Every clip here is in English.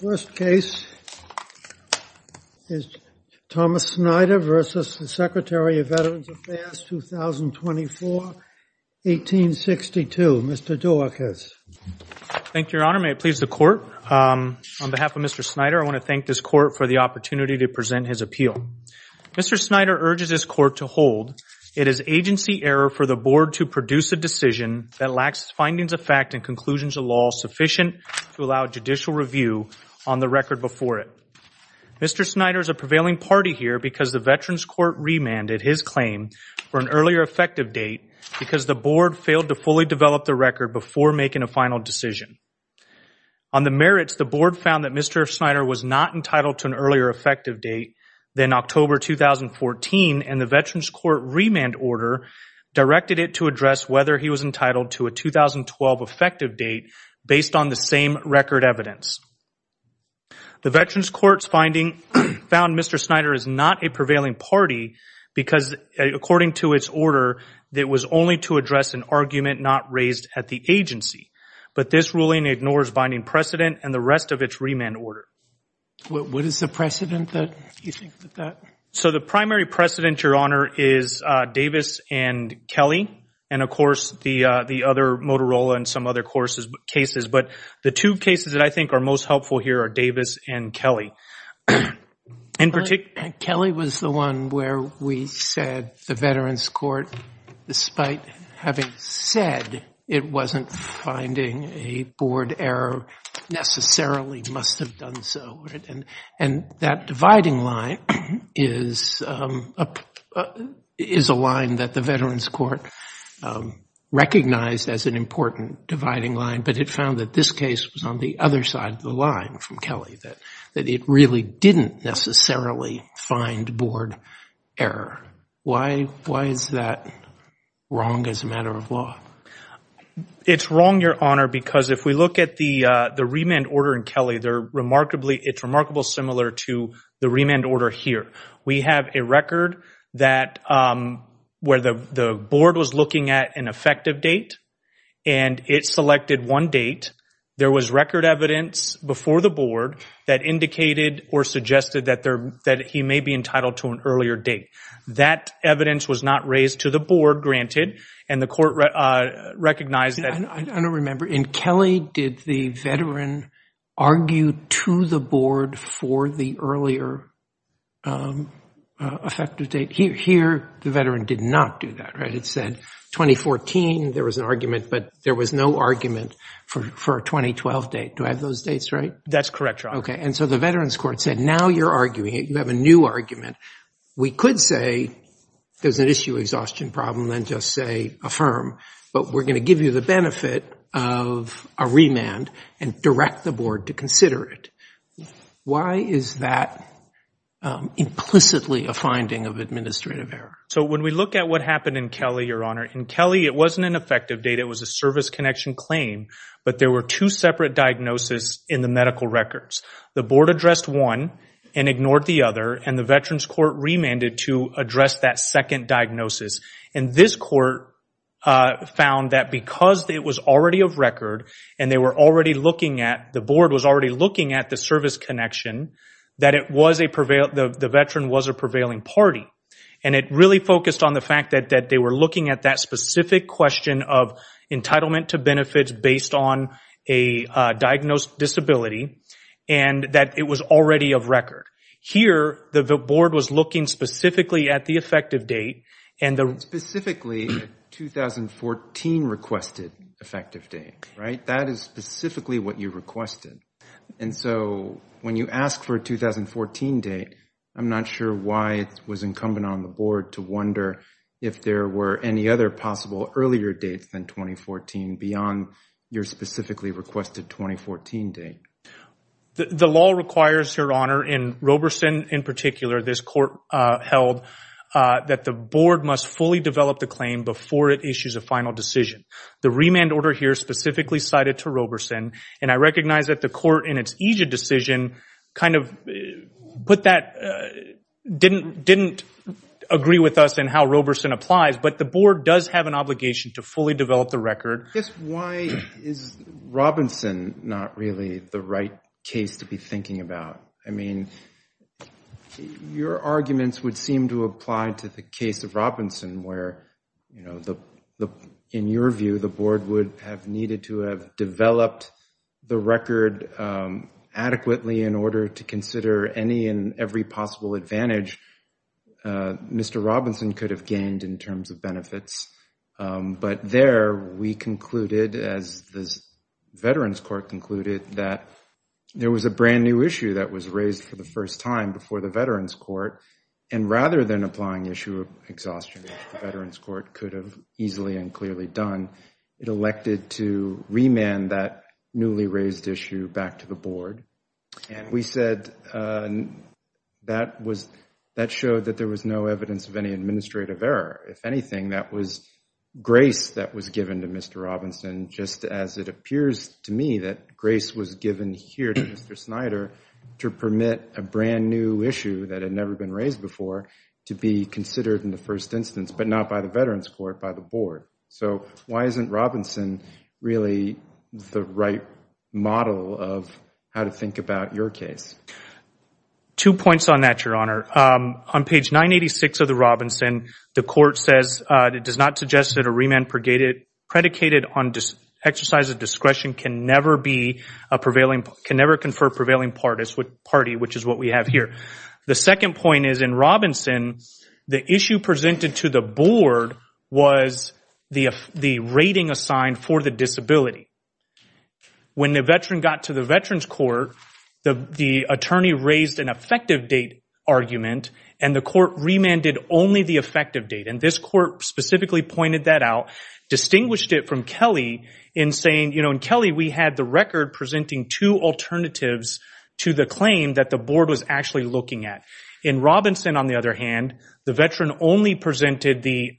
First case is Thomas Snyder versus the Secretary of Veterans Affairs 2024-1862. Mr. Duarquez. Thank you, your honor. May it please the court. On behalf of Mr. Snyder, I want to thank this court for the opportunity to present his appeal. Mr. Snyder urges this court to hold it is agency error for the board to produce a decision that lacks findings of fact and conclusions of law sufficient to allow judicial review on the record before it. Mr. Snyder is a prevailing party here because the Veterans Court remanded his claim for an earlier effective date because the board failed to fully develop the record before making a final decision. On the merits, the board found that Mr. Snyder was not entitled to an earlier effective date than October 2014 and the Veterans Court remand order directed it to address whether he was record evidence. The Veterans Court's finding found Mr. Snyder is not a prevailing party because according to its order, it was only to address an argument not raised at the agency, but this ruling ignores binding precedent and the rest of its remand order. What is the precedent that you think that that? So the primary precedent, your honor, is Davis and Kelly and of course the other Motorola and some other courses, cases, but the two cases that I think are most helpful here are Davis and Kelly. Kelly was the one where we said the Veterans Court, despite having said it wasn't finding a board error, necessarily must have done so. And that dividing line is a line that the Veterans Court recognized as an important dividing line, but it found that this case was on the other side of the line from Kelly, that it really didn't necessarily find board error. Why is that wrong as a matter of law? It's wrong, your honor, because if we look at the remand order in Kelly, it's remarkable similar to the remand order here. We have a record where the board was looking at an effective date and it selected one date. There was record evidence before the board that indicated or suggested that he may be entitled to an earlier date. That evidence was not raised to the board, granted, and the court recognized that. I don't remember. In Kelly, did the veteran argue to the board for the earlier effective date? Here, the veteran did not do that, right? It said 2014. There was an argument, but there was no argument for a 2012 date. Do I have those dates right? That's correct, your honor. Okay. And so the Veterans Court said, now you're arguing it. You have a new argument. We could say there's an issue exhaustion problem and just say affirm, but we're going to give you the benefit of a remand and direct the board to consider it. Why is that implicitly a finding of administrative error? So when we look at what happened in Kelly, your honor, in Kelly, it wasn't an effective date. It was a service connection claim, but there were two separate diagnoses in the medical records. The board addressed one and ignored the other, and the Veterans Court remanded to address that second diagnosis. And this court found that because it was already of record and the board was already looking at the service connection, that the veteran was a prevailing party. And it really focused on the specific question of entitlement to benefits based on a diagnosed disability, and that it was already of record. Here, the board was looking specifically at the effective date. And specifically, 2014 requested effective date, right? That is specifically what you requested. And so when you ask for a 2014 date, I'm not sure why it was incumbent on the board to wonder if there were any other possible earlier dates than 2014 beyond your specifically requested 2014 date. The law requires, your honor, in Roberson in particular, this court held that the board must fully develop the claim before it issues a final decision. The remand order here specifically cited to Roberson, and I recognize that the court in its Egypt decision kind of put that, didn't agree with us in how Roberson applies, but the board does have an obligation to fully develop the record. Just why is Robinson not really the right case to be thinking about? I mean, your arguments would seem to apply to the case of Robinson where, you know, in your view, the board would have needed to have developed the record adequately in order to consider any and every possible advantage Mr. Roberson could have gained in terms of benefits. But there, we concluded, as the Veterans Court concluded, that there was a brand new issue that was raised for the first time before the Veterans Court. And rather than applying issue of exhaustion, the Veterans Court could have easily and clearly done, it elected to remand that newly raised issue back to the board. And we said that was, that showed that there was no evidence of any administrative error. If anything, that was grace that was given to Mr. Robinson, just as it appears to me that grace was given here to Mr. Snyder to permit a brand new issue that had never been raised before to be considered in the first instance, but not by the Veterans Court, by the board. So why isn't Robinson really the right model of how to think about your case? Two points on that, Your Honor. On page 986 of the Robinson, the court says, it does not suggest that a remand predicated on exercise of discretion can never be a prevailing, can never confer prevailing party, which is what we have here. The second point is, in Robinson, the issue presented to the board was the rating assigned for the disability. When the veteran got to the Veterans Court, the attorney raised an effective date argument, and the court remanded only the effective date. And this court specifically pointed that out, distinguished it from Kelly in saying, you know, in Kelly, we had the record presenting two alternatives to the claim that the board was actually looking at. In Robinson, on the other hand, the veteran only presented the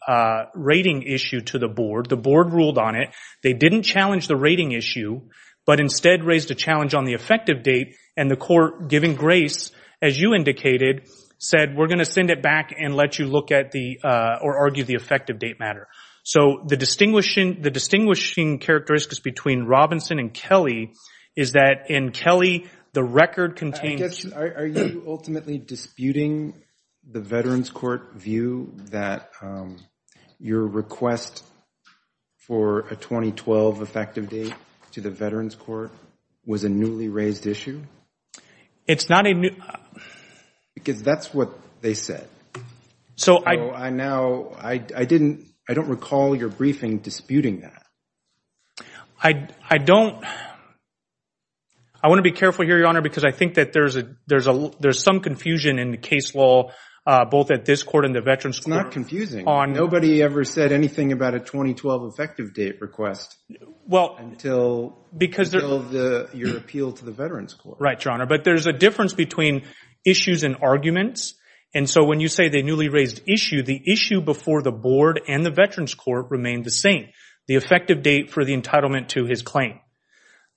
rating issue to the board. The board ruled on it. They didn't challenge the rating issue, but instead raised a challenge on the effective date, and the court, giving grace, as you indicated, said, we're going to send it back and let you look at the, or argue the effective date matter. So the distinguishing, the distinguishing characteristics between Robinson and Kelly is that in Kelly, the record contains... I guess, are you ultimately disputing the Veterans Court view that your request for a 2012 effective date to the Veterans Court was a newly raised issue? It's not a new... Because that's what they said. So I... So I now, I didn't, I don't recall your briefing disputing that. I, I don't, I want to be careful here, Your Honor, because I think that there's a, there's a, there's some confusion in the case law, both at this court and the Veterans Court. It's not confusing. On... Nobody ever said anything about a 2012 effective date request. Well... Until... Because... Until the, your appeal to the Veterans Court. Right, Your Honor. But there's a difference between issues and arguments. And so when you say the newly raised issue, the issue before the board and the Veterans Court remained the same. The effective date for the entitlement to his claim.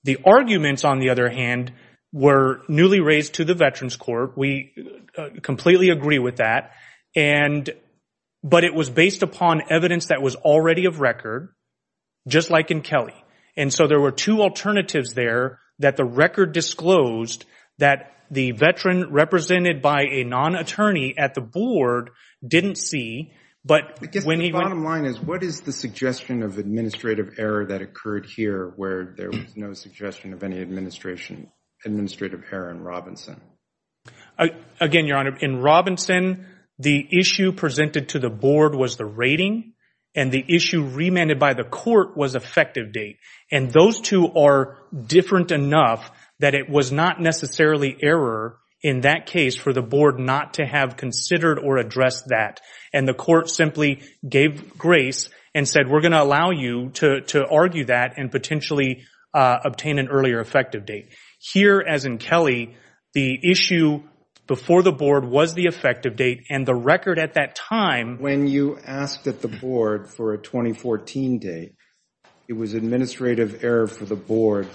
The arguments, on the other hand, were newly raised to the Veterans Court. We completely agree with that. And, but it was based upon evidence that was already of record, just like in Kelly. And so there were two alternatives there that the record disclosed that the veteran represented by a non-attorney at the board didn't see, but when he... Error that occurred here, where there was no suggestion of any administration, administrative error in Robinson. Again, Your Honor, in Robinson, the issue presented to the board was the rating, and the issue remanded by the court was effective date. And those two are different enough that it was not necessarily error in that case for the board not to have considered or addressed that. And the court simply gave grace and said, we're going to allow you to argue that and potentially obtain an earlier effective date. Here, as in Kelly, the issue before the board was the effective date, and the record at that time... When you asked at the board for a 2014 date, it was administrative error for the board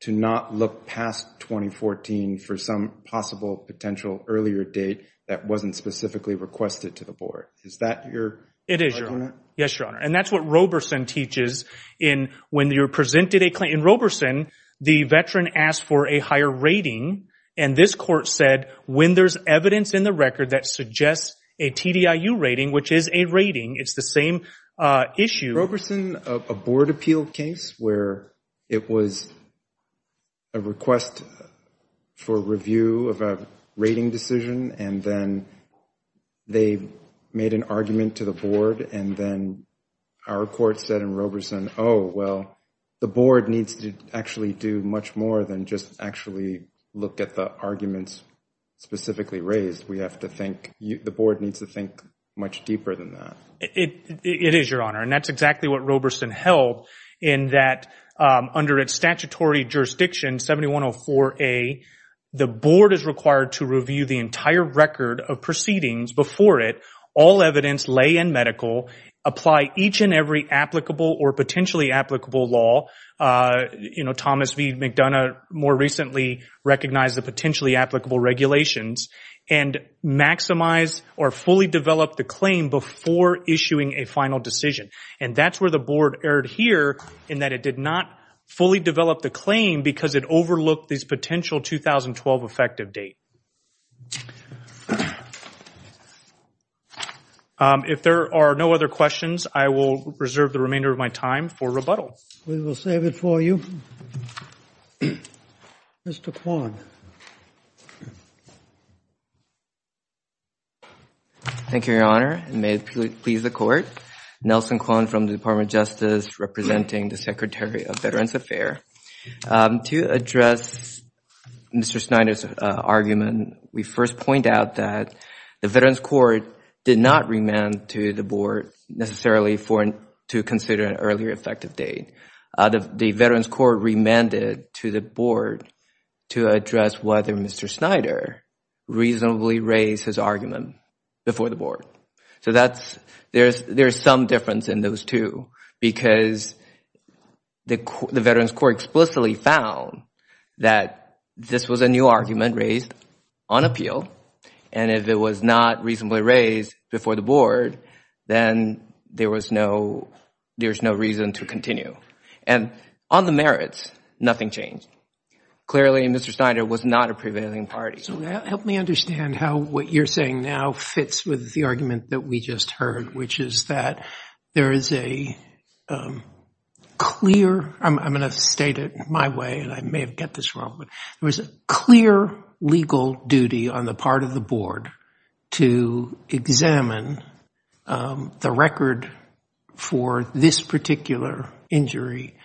to not look past 2014 for some possible potential earlier date that wasn't specifically requested to the board. Is that your argument? It is, Your Honor. Yes, Your Honor. And that's what Roberson teaches in when you're presented a claim... In Roberson, the veteran asked for a higher rating, and this court said when there's evidence in the record that suggests a TDIU rating, which is a rating, it's the same issue... Roberson, a board appeal case where it was a request for review of a rating decision, and then they made an argument to the board, and then our court said in Roberson, oh, well, the board needs to actually do much more than just actually look at the arguments specifically raised. We have to the board needs to think much deeper than that. It is, Your Honor, and that's exactly what Roberson held in that under its statutory jurisdiction, 7104A, the board is required to review the entire record of proceedings before it, all evidence, lay and medical, apply each and every applicable or potentially applicable law. Thomas V. McDonough more recently recognized the potentially applicable regulations and maximize or fully develop the claim before issuing a final decision. And that's where the board erred here in that it did not fully develop the claim because it overlooked this potential 2012 effective date. If there are no other questions, I will reserve the remainder of my time for rebuttal. We will save it for you. Mr. Kwon. Thank you, Your Honor. May it please the court. Nelson Kwon from the Department of Justice representing the Secretary of Veterans Affairs. To address Mr. Snyder's argument, we first point that the Veterans Court did not remand to the board necessarily to consider an earlier effective date. The Veterans Court remanded to the board to address whether Mr. Snyder reasonably raised his argument before the board. So there is some difference in those two because the Veterans Court explicitly found that this was a new argument raised on appeal. And if it was not reasonably raised before the board, then there was no there's no reason to continue. And on the merits, nothing changed. Clearly, Mr. Snyder was not a prevailing party. So help me understand how what you're saying now fits with the argument that we just heard, which is that there is a clear, I'm going to state it my way and I may get this wrong, but there was a clear legal duty on the part of the board to examine the record for this particular injury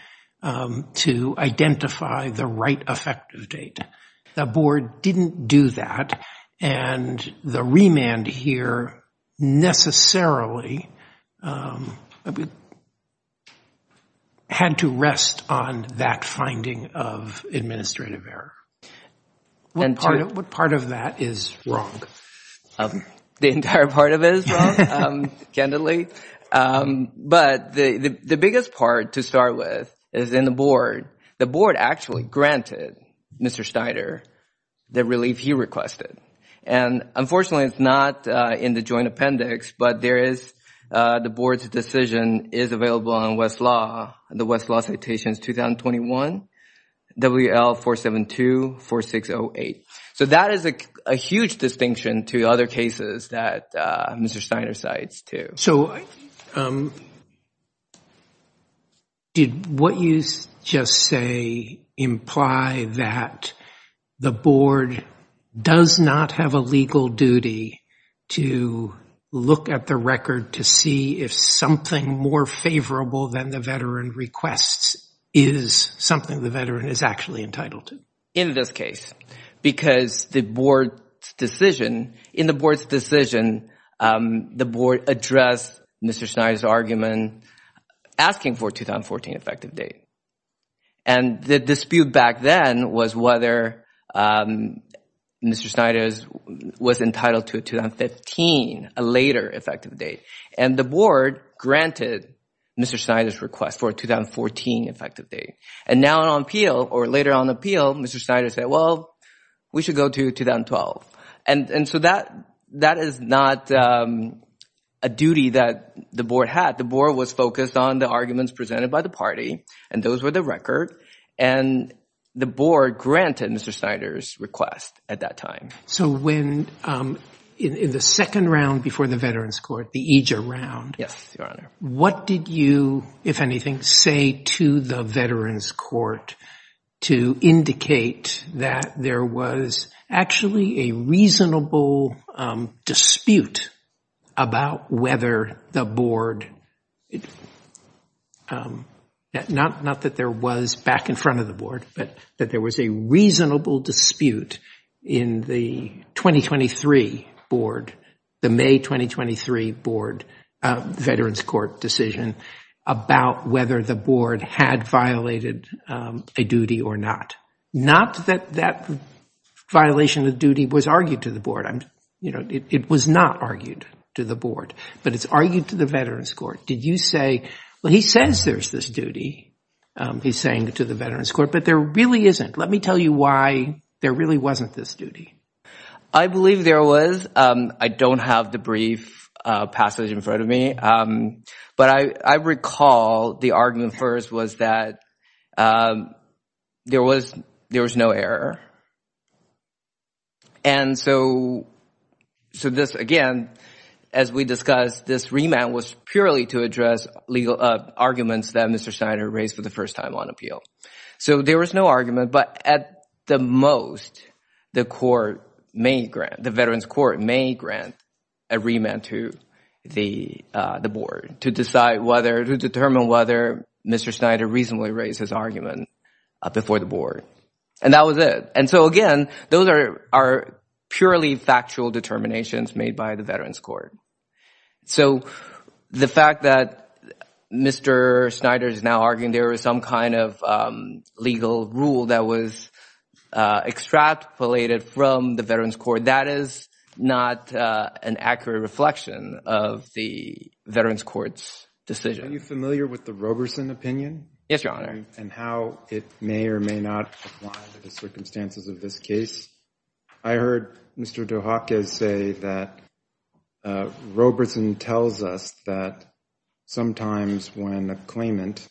to identify the right effective date. The board didn't do that. And the remand here necessarily had to rest on that finding of administrative error. What part of that is wrong? The entire part of it is wrong, candidly. But the biggest part to start with is in the board. The board actually granted Mr. Snyder the relief he requested. And unfortunately, it's not in the joint appendix, but there is the board's decision is available on Westlaw, the Westlaw Citations 2021, WL472-4608. So that is a huge distinction to other cases that Mr. Snyder cites too. So did what you just say imply that the board does not have a legal duty to look at the record to see if something more favorable than the veteran requests is something the veteran is actually entitled to? In this case, because the board's decision, in the board's decision, the board addressed Mr. Snyder's argument asking for a 2014 effective date. And the dispute back then was whether Mr. Snyder was entitled to a 2015, a later effective date. And the board granted Mr. Snyder's request for a 2014 effective date. And now on appeal, or later on appeal, Mr. Snyder said, well, we should go to 2012. And so that is not a duty that the board had. The board was focused on the arguments presented by the party. And those were the record. And the board granted Mr. Snyder's request at that time. So when in the second round before the Veterans Court, the EJER round, what did you, if anything, say to the Veterans Court to indicate that there was actually a reasonable dispute about whether the board, not that there was back in front of the board, but that there was a reasonable dispute in the 2023 board, the May 2023 board Veterans Court decision about whether the board had violated a duty or not, not that that violation of duty was argued to the board. It was not argued to the board, but it's argued to the Veterans Court. Did you say, well, he says there's this duty, he's saying to the Veterans Court, but there really isn't. Let me tell you why there really wasn't this duty. I believe there was. I don't have the brief passage in front of me. But I recall the argument first was that there was no error. And so this, again, as we discussed, this remand was purely to address legal arguments that Mr. Snyder raised for the first time on appeal. So there was no at the most, the court may grant, the Veterans Court may grant a remand to the board to decide whether, to determine whether Mr. Snyder reasonably raised his argument before the board. And that was it. And so, again, those are purely factual determinations made by the Veterans Court. So the fact that Mr. Snyder is now arguing there was some kind of legal rule that was extrapolated from the Veterans Court, that is not an accurate reflection of the Veterans Court's decision. Are you familiar with the Roberson opinion? Yes, Your Honor. And how it may or may not apply to the circumstances of this case. I heard Mr. Dujakis say that Roberson tells us that sometimes when a claimant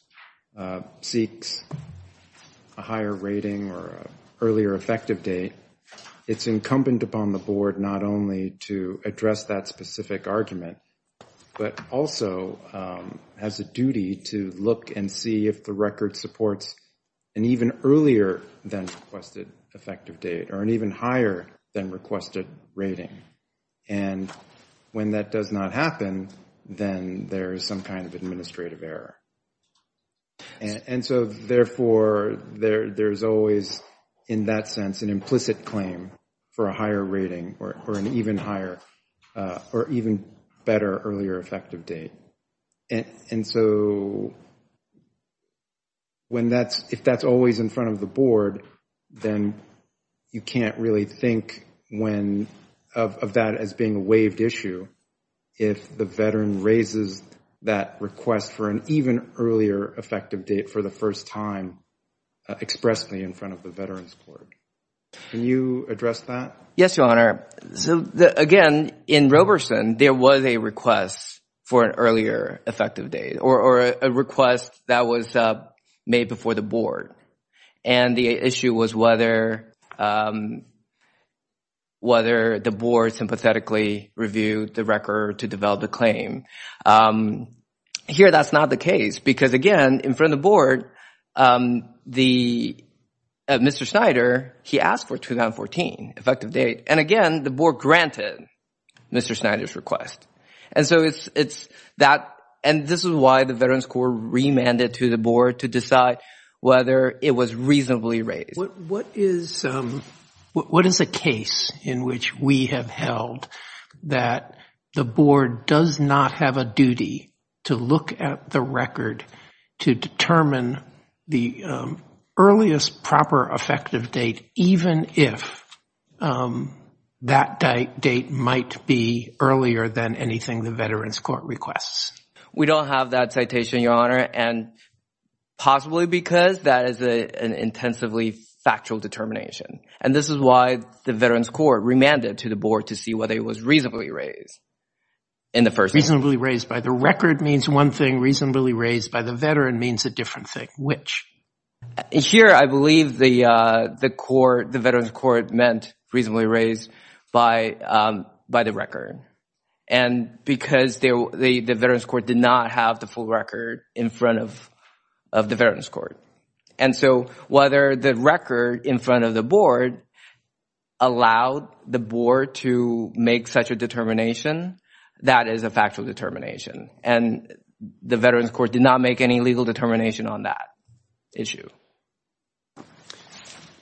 seeks a higher rating or earlier effective date, it's incumbent upon the board not only to address that specific argument, but also has a duty to look and see if the record supports an even earlier than requested effective date or an even higher than requested rating. And when that does not happen, then there is some kind of administrative error. And so, therefore, there's always, in that sense, an implicit claim for a higher rating or an even higher or even better earlier effective date. And so, if that's always in front of the board, then you can't really think of that as being a waived issue if the veteran raises that request for an even earlier effective date for the first time expressly in front of the Veterans Court. Can you address that? Yes, Your Honor. So, again, in Roberson, there was a request for an earlier effective date or a request that was made before the board. And the issue was whether the board sympathetically reviewed the record to develop a claim. Here, that's not the case because, again, in front of the board, Mr. Snyder, he asked for 2014 effective date. And again, the board granted Mr. Snyder's request. And so, this is why the Veterans Court remanded to the board to decide whether it was reasonably raised. What is a case in which we have held that the board does not have a duty to look at the record to determine the earliest proper effective date, even if that date might be earlier than anything the Veterans Court requests? We don't have that citation, Your Honor, and possibly because that is an intensively factual determination. And this is why the Veterans Court remanded to the board to see whether it was reasonably raised in the first place. Reasonably raised by the record means one thing. Reasonably raised by the veteran means a different thing. Which? Here, I believe the Veterans Court meant reasonably raised by the record. And because the Veterans Court did not have the full record in front of the Veterans Court. And so, whether the record in front of the board allowed the board to make such a determination, that is a factual determination. And the Veterans Court did not make any legal determination on that issue.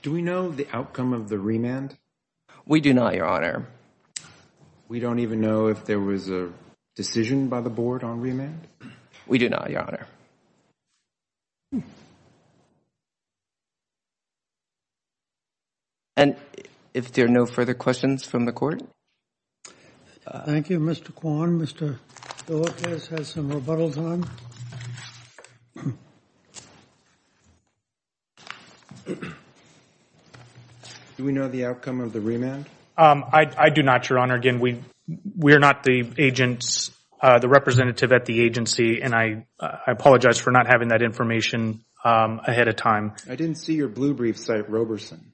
Do we know the outcome of the remand? We do not, Your Honor. We don't even know if there was a decision by the board on remand? We do not, Your Honor. And if there are no further questions from the court? Thank you, Mr. Kwon. Mr. Delacroix has some rebuttals on. Do we know the outcome of the remand? I do not, Your Honor. Again, we are not the agents, the representative at the agency. And I apologize for not having that information ahead of time. I didn't see your blue briefs at Roberson.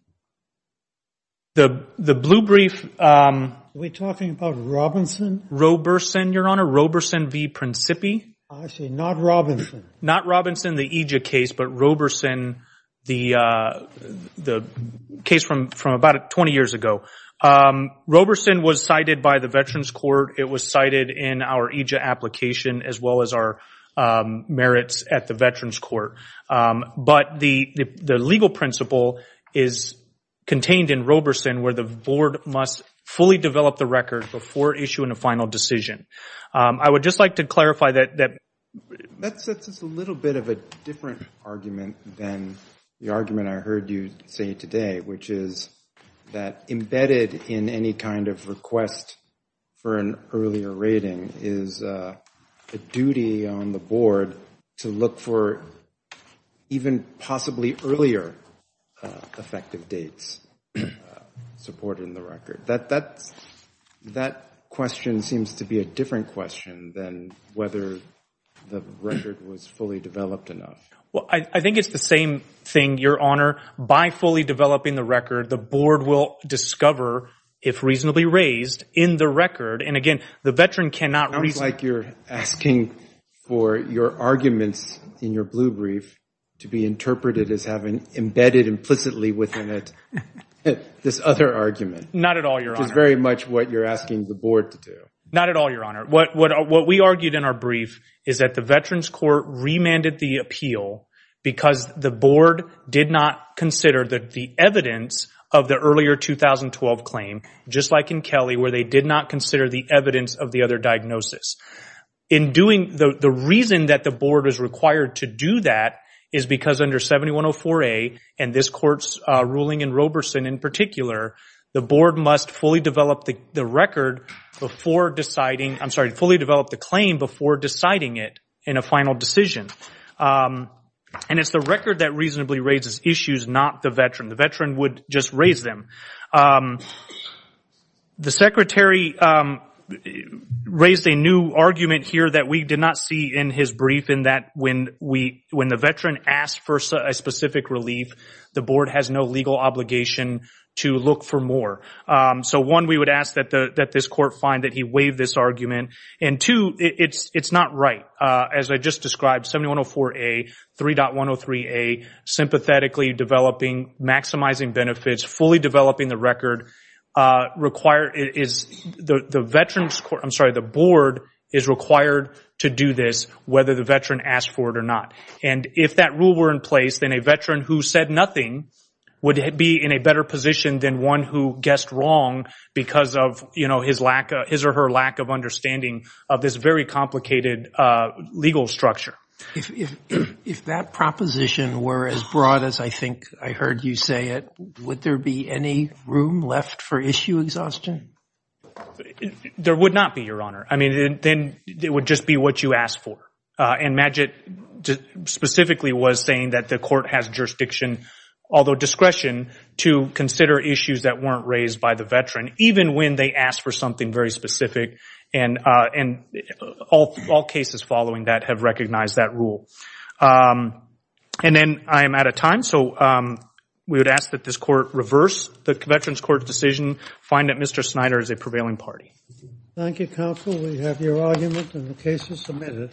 The blue brief. We're talking about Roberson? Roberson, Your Honor. Roberson v. Principi. I see. Not Robinson. Not Robinson, the EJIA case. But Roberson, the case from about 20 years ago. Roberson was cited by the Veterans Court. It was cited in our EJIA application, as well as our merits at the Veterans Court. But the legal principle is contained in Roberson where the board must fully develop the record before issuing a final decision. I would just like to clarify that. That's just a little bit of a different argument than the argument I heard you say today, which is that embedded in any kind of request for an earlier rating is a duty on the board to look for even possibly earlier effective dates supporting the record. That question seems to be a different question than whether the record was fully developed enough. Well, I think it's the same thing, Your Honor. By fully developing the record, the board will discover, if reasonably raised, in the record. And again, the veteran cannot reason. It sounds like you're asking for your arguments in your blue brief to be interpreted as having embedded implicitly within it this other argument. Not at all, Your Honor. Which is very much what you're asking the board to do. Not at all, Your Honor. What we argued in our brief is that the Veterans Court remanded the appeal because the board did not consider the evidence of the earlier 2012 claim, just like in Kelly, where they did not consider the evidence of the other diagnosis. In doing, the reason that the board is required to do that is because under 7104A and this court's ruling in Roberson in particular, the board must fully develop the record before deciding, I'm sorry, fully develop the claim before deciding it in a final decision. And it's the record that reasonably raises issues, not the veteran. The veteran would just raise them. The secretary raised a new argument here that we did not see in his brief in that when the veteran asked for a specific relief, the board has no legal obligation to look for more. So one, we would ask that this court find that he waived this argument. And two, it's not right. As I just described, 7104A, 3.103A, sympathetically developing, maximizing benefits, fully developing, the record is the veteran's court, I'm sorry, the board is required to do this whether the veteran asked for it or not. And if that rule were in place, then a veteran who said nothing would be in a better position than one who guessed wrong because of his or her lack of understanding of this very complicated legal structure. If that proposition were as broad as I think I heard you say it, would there be any room left for issue exhaustion? There would not be, Your Honor. I mean, then it would just be what you asked for. And Magid specifically was saying that the court has jurisdiction, although discretion, to consider issues that weren't raised by the veteran even when they asked for something very specific. And all cases following that have recognized that rule. And then I am out of time, so we would ask that this court reverse the veteran's court's decision, find that Mr. Snyder is a prevailing party. Thank you, counsel. We have your argument and the case is submitted.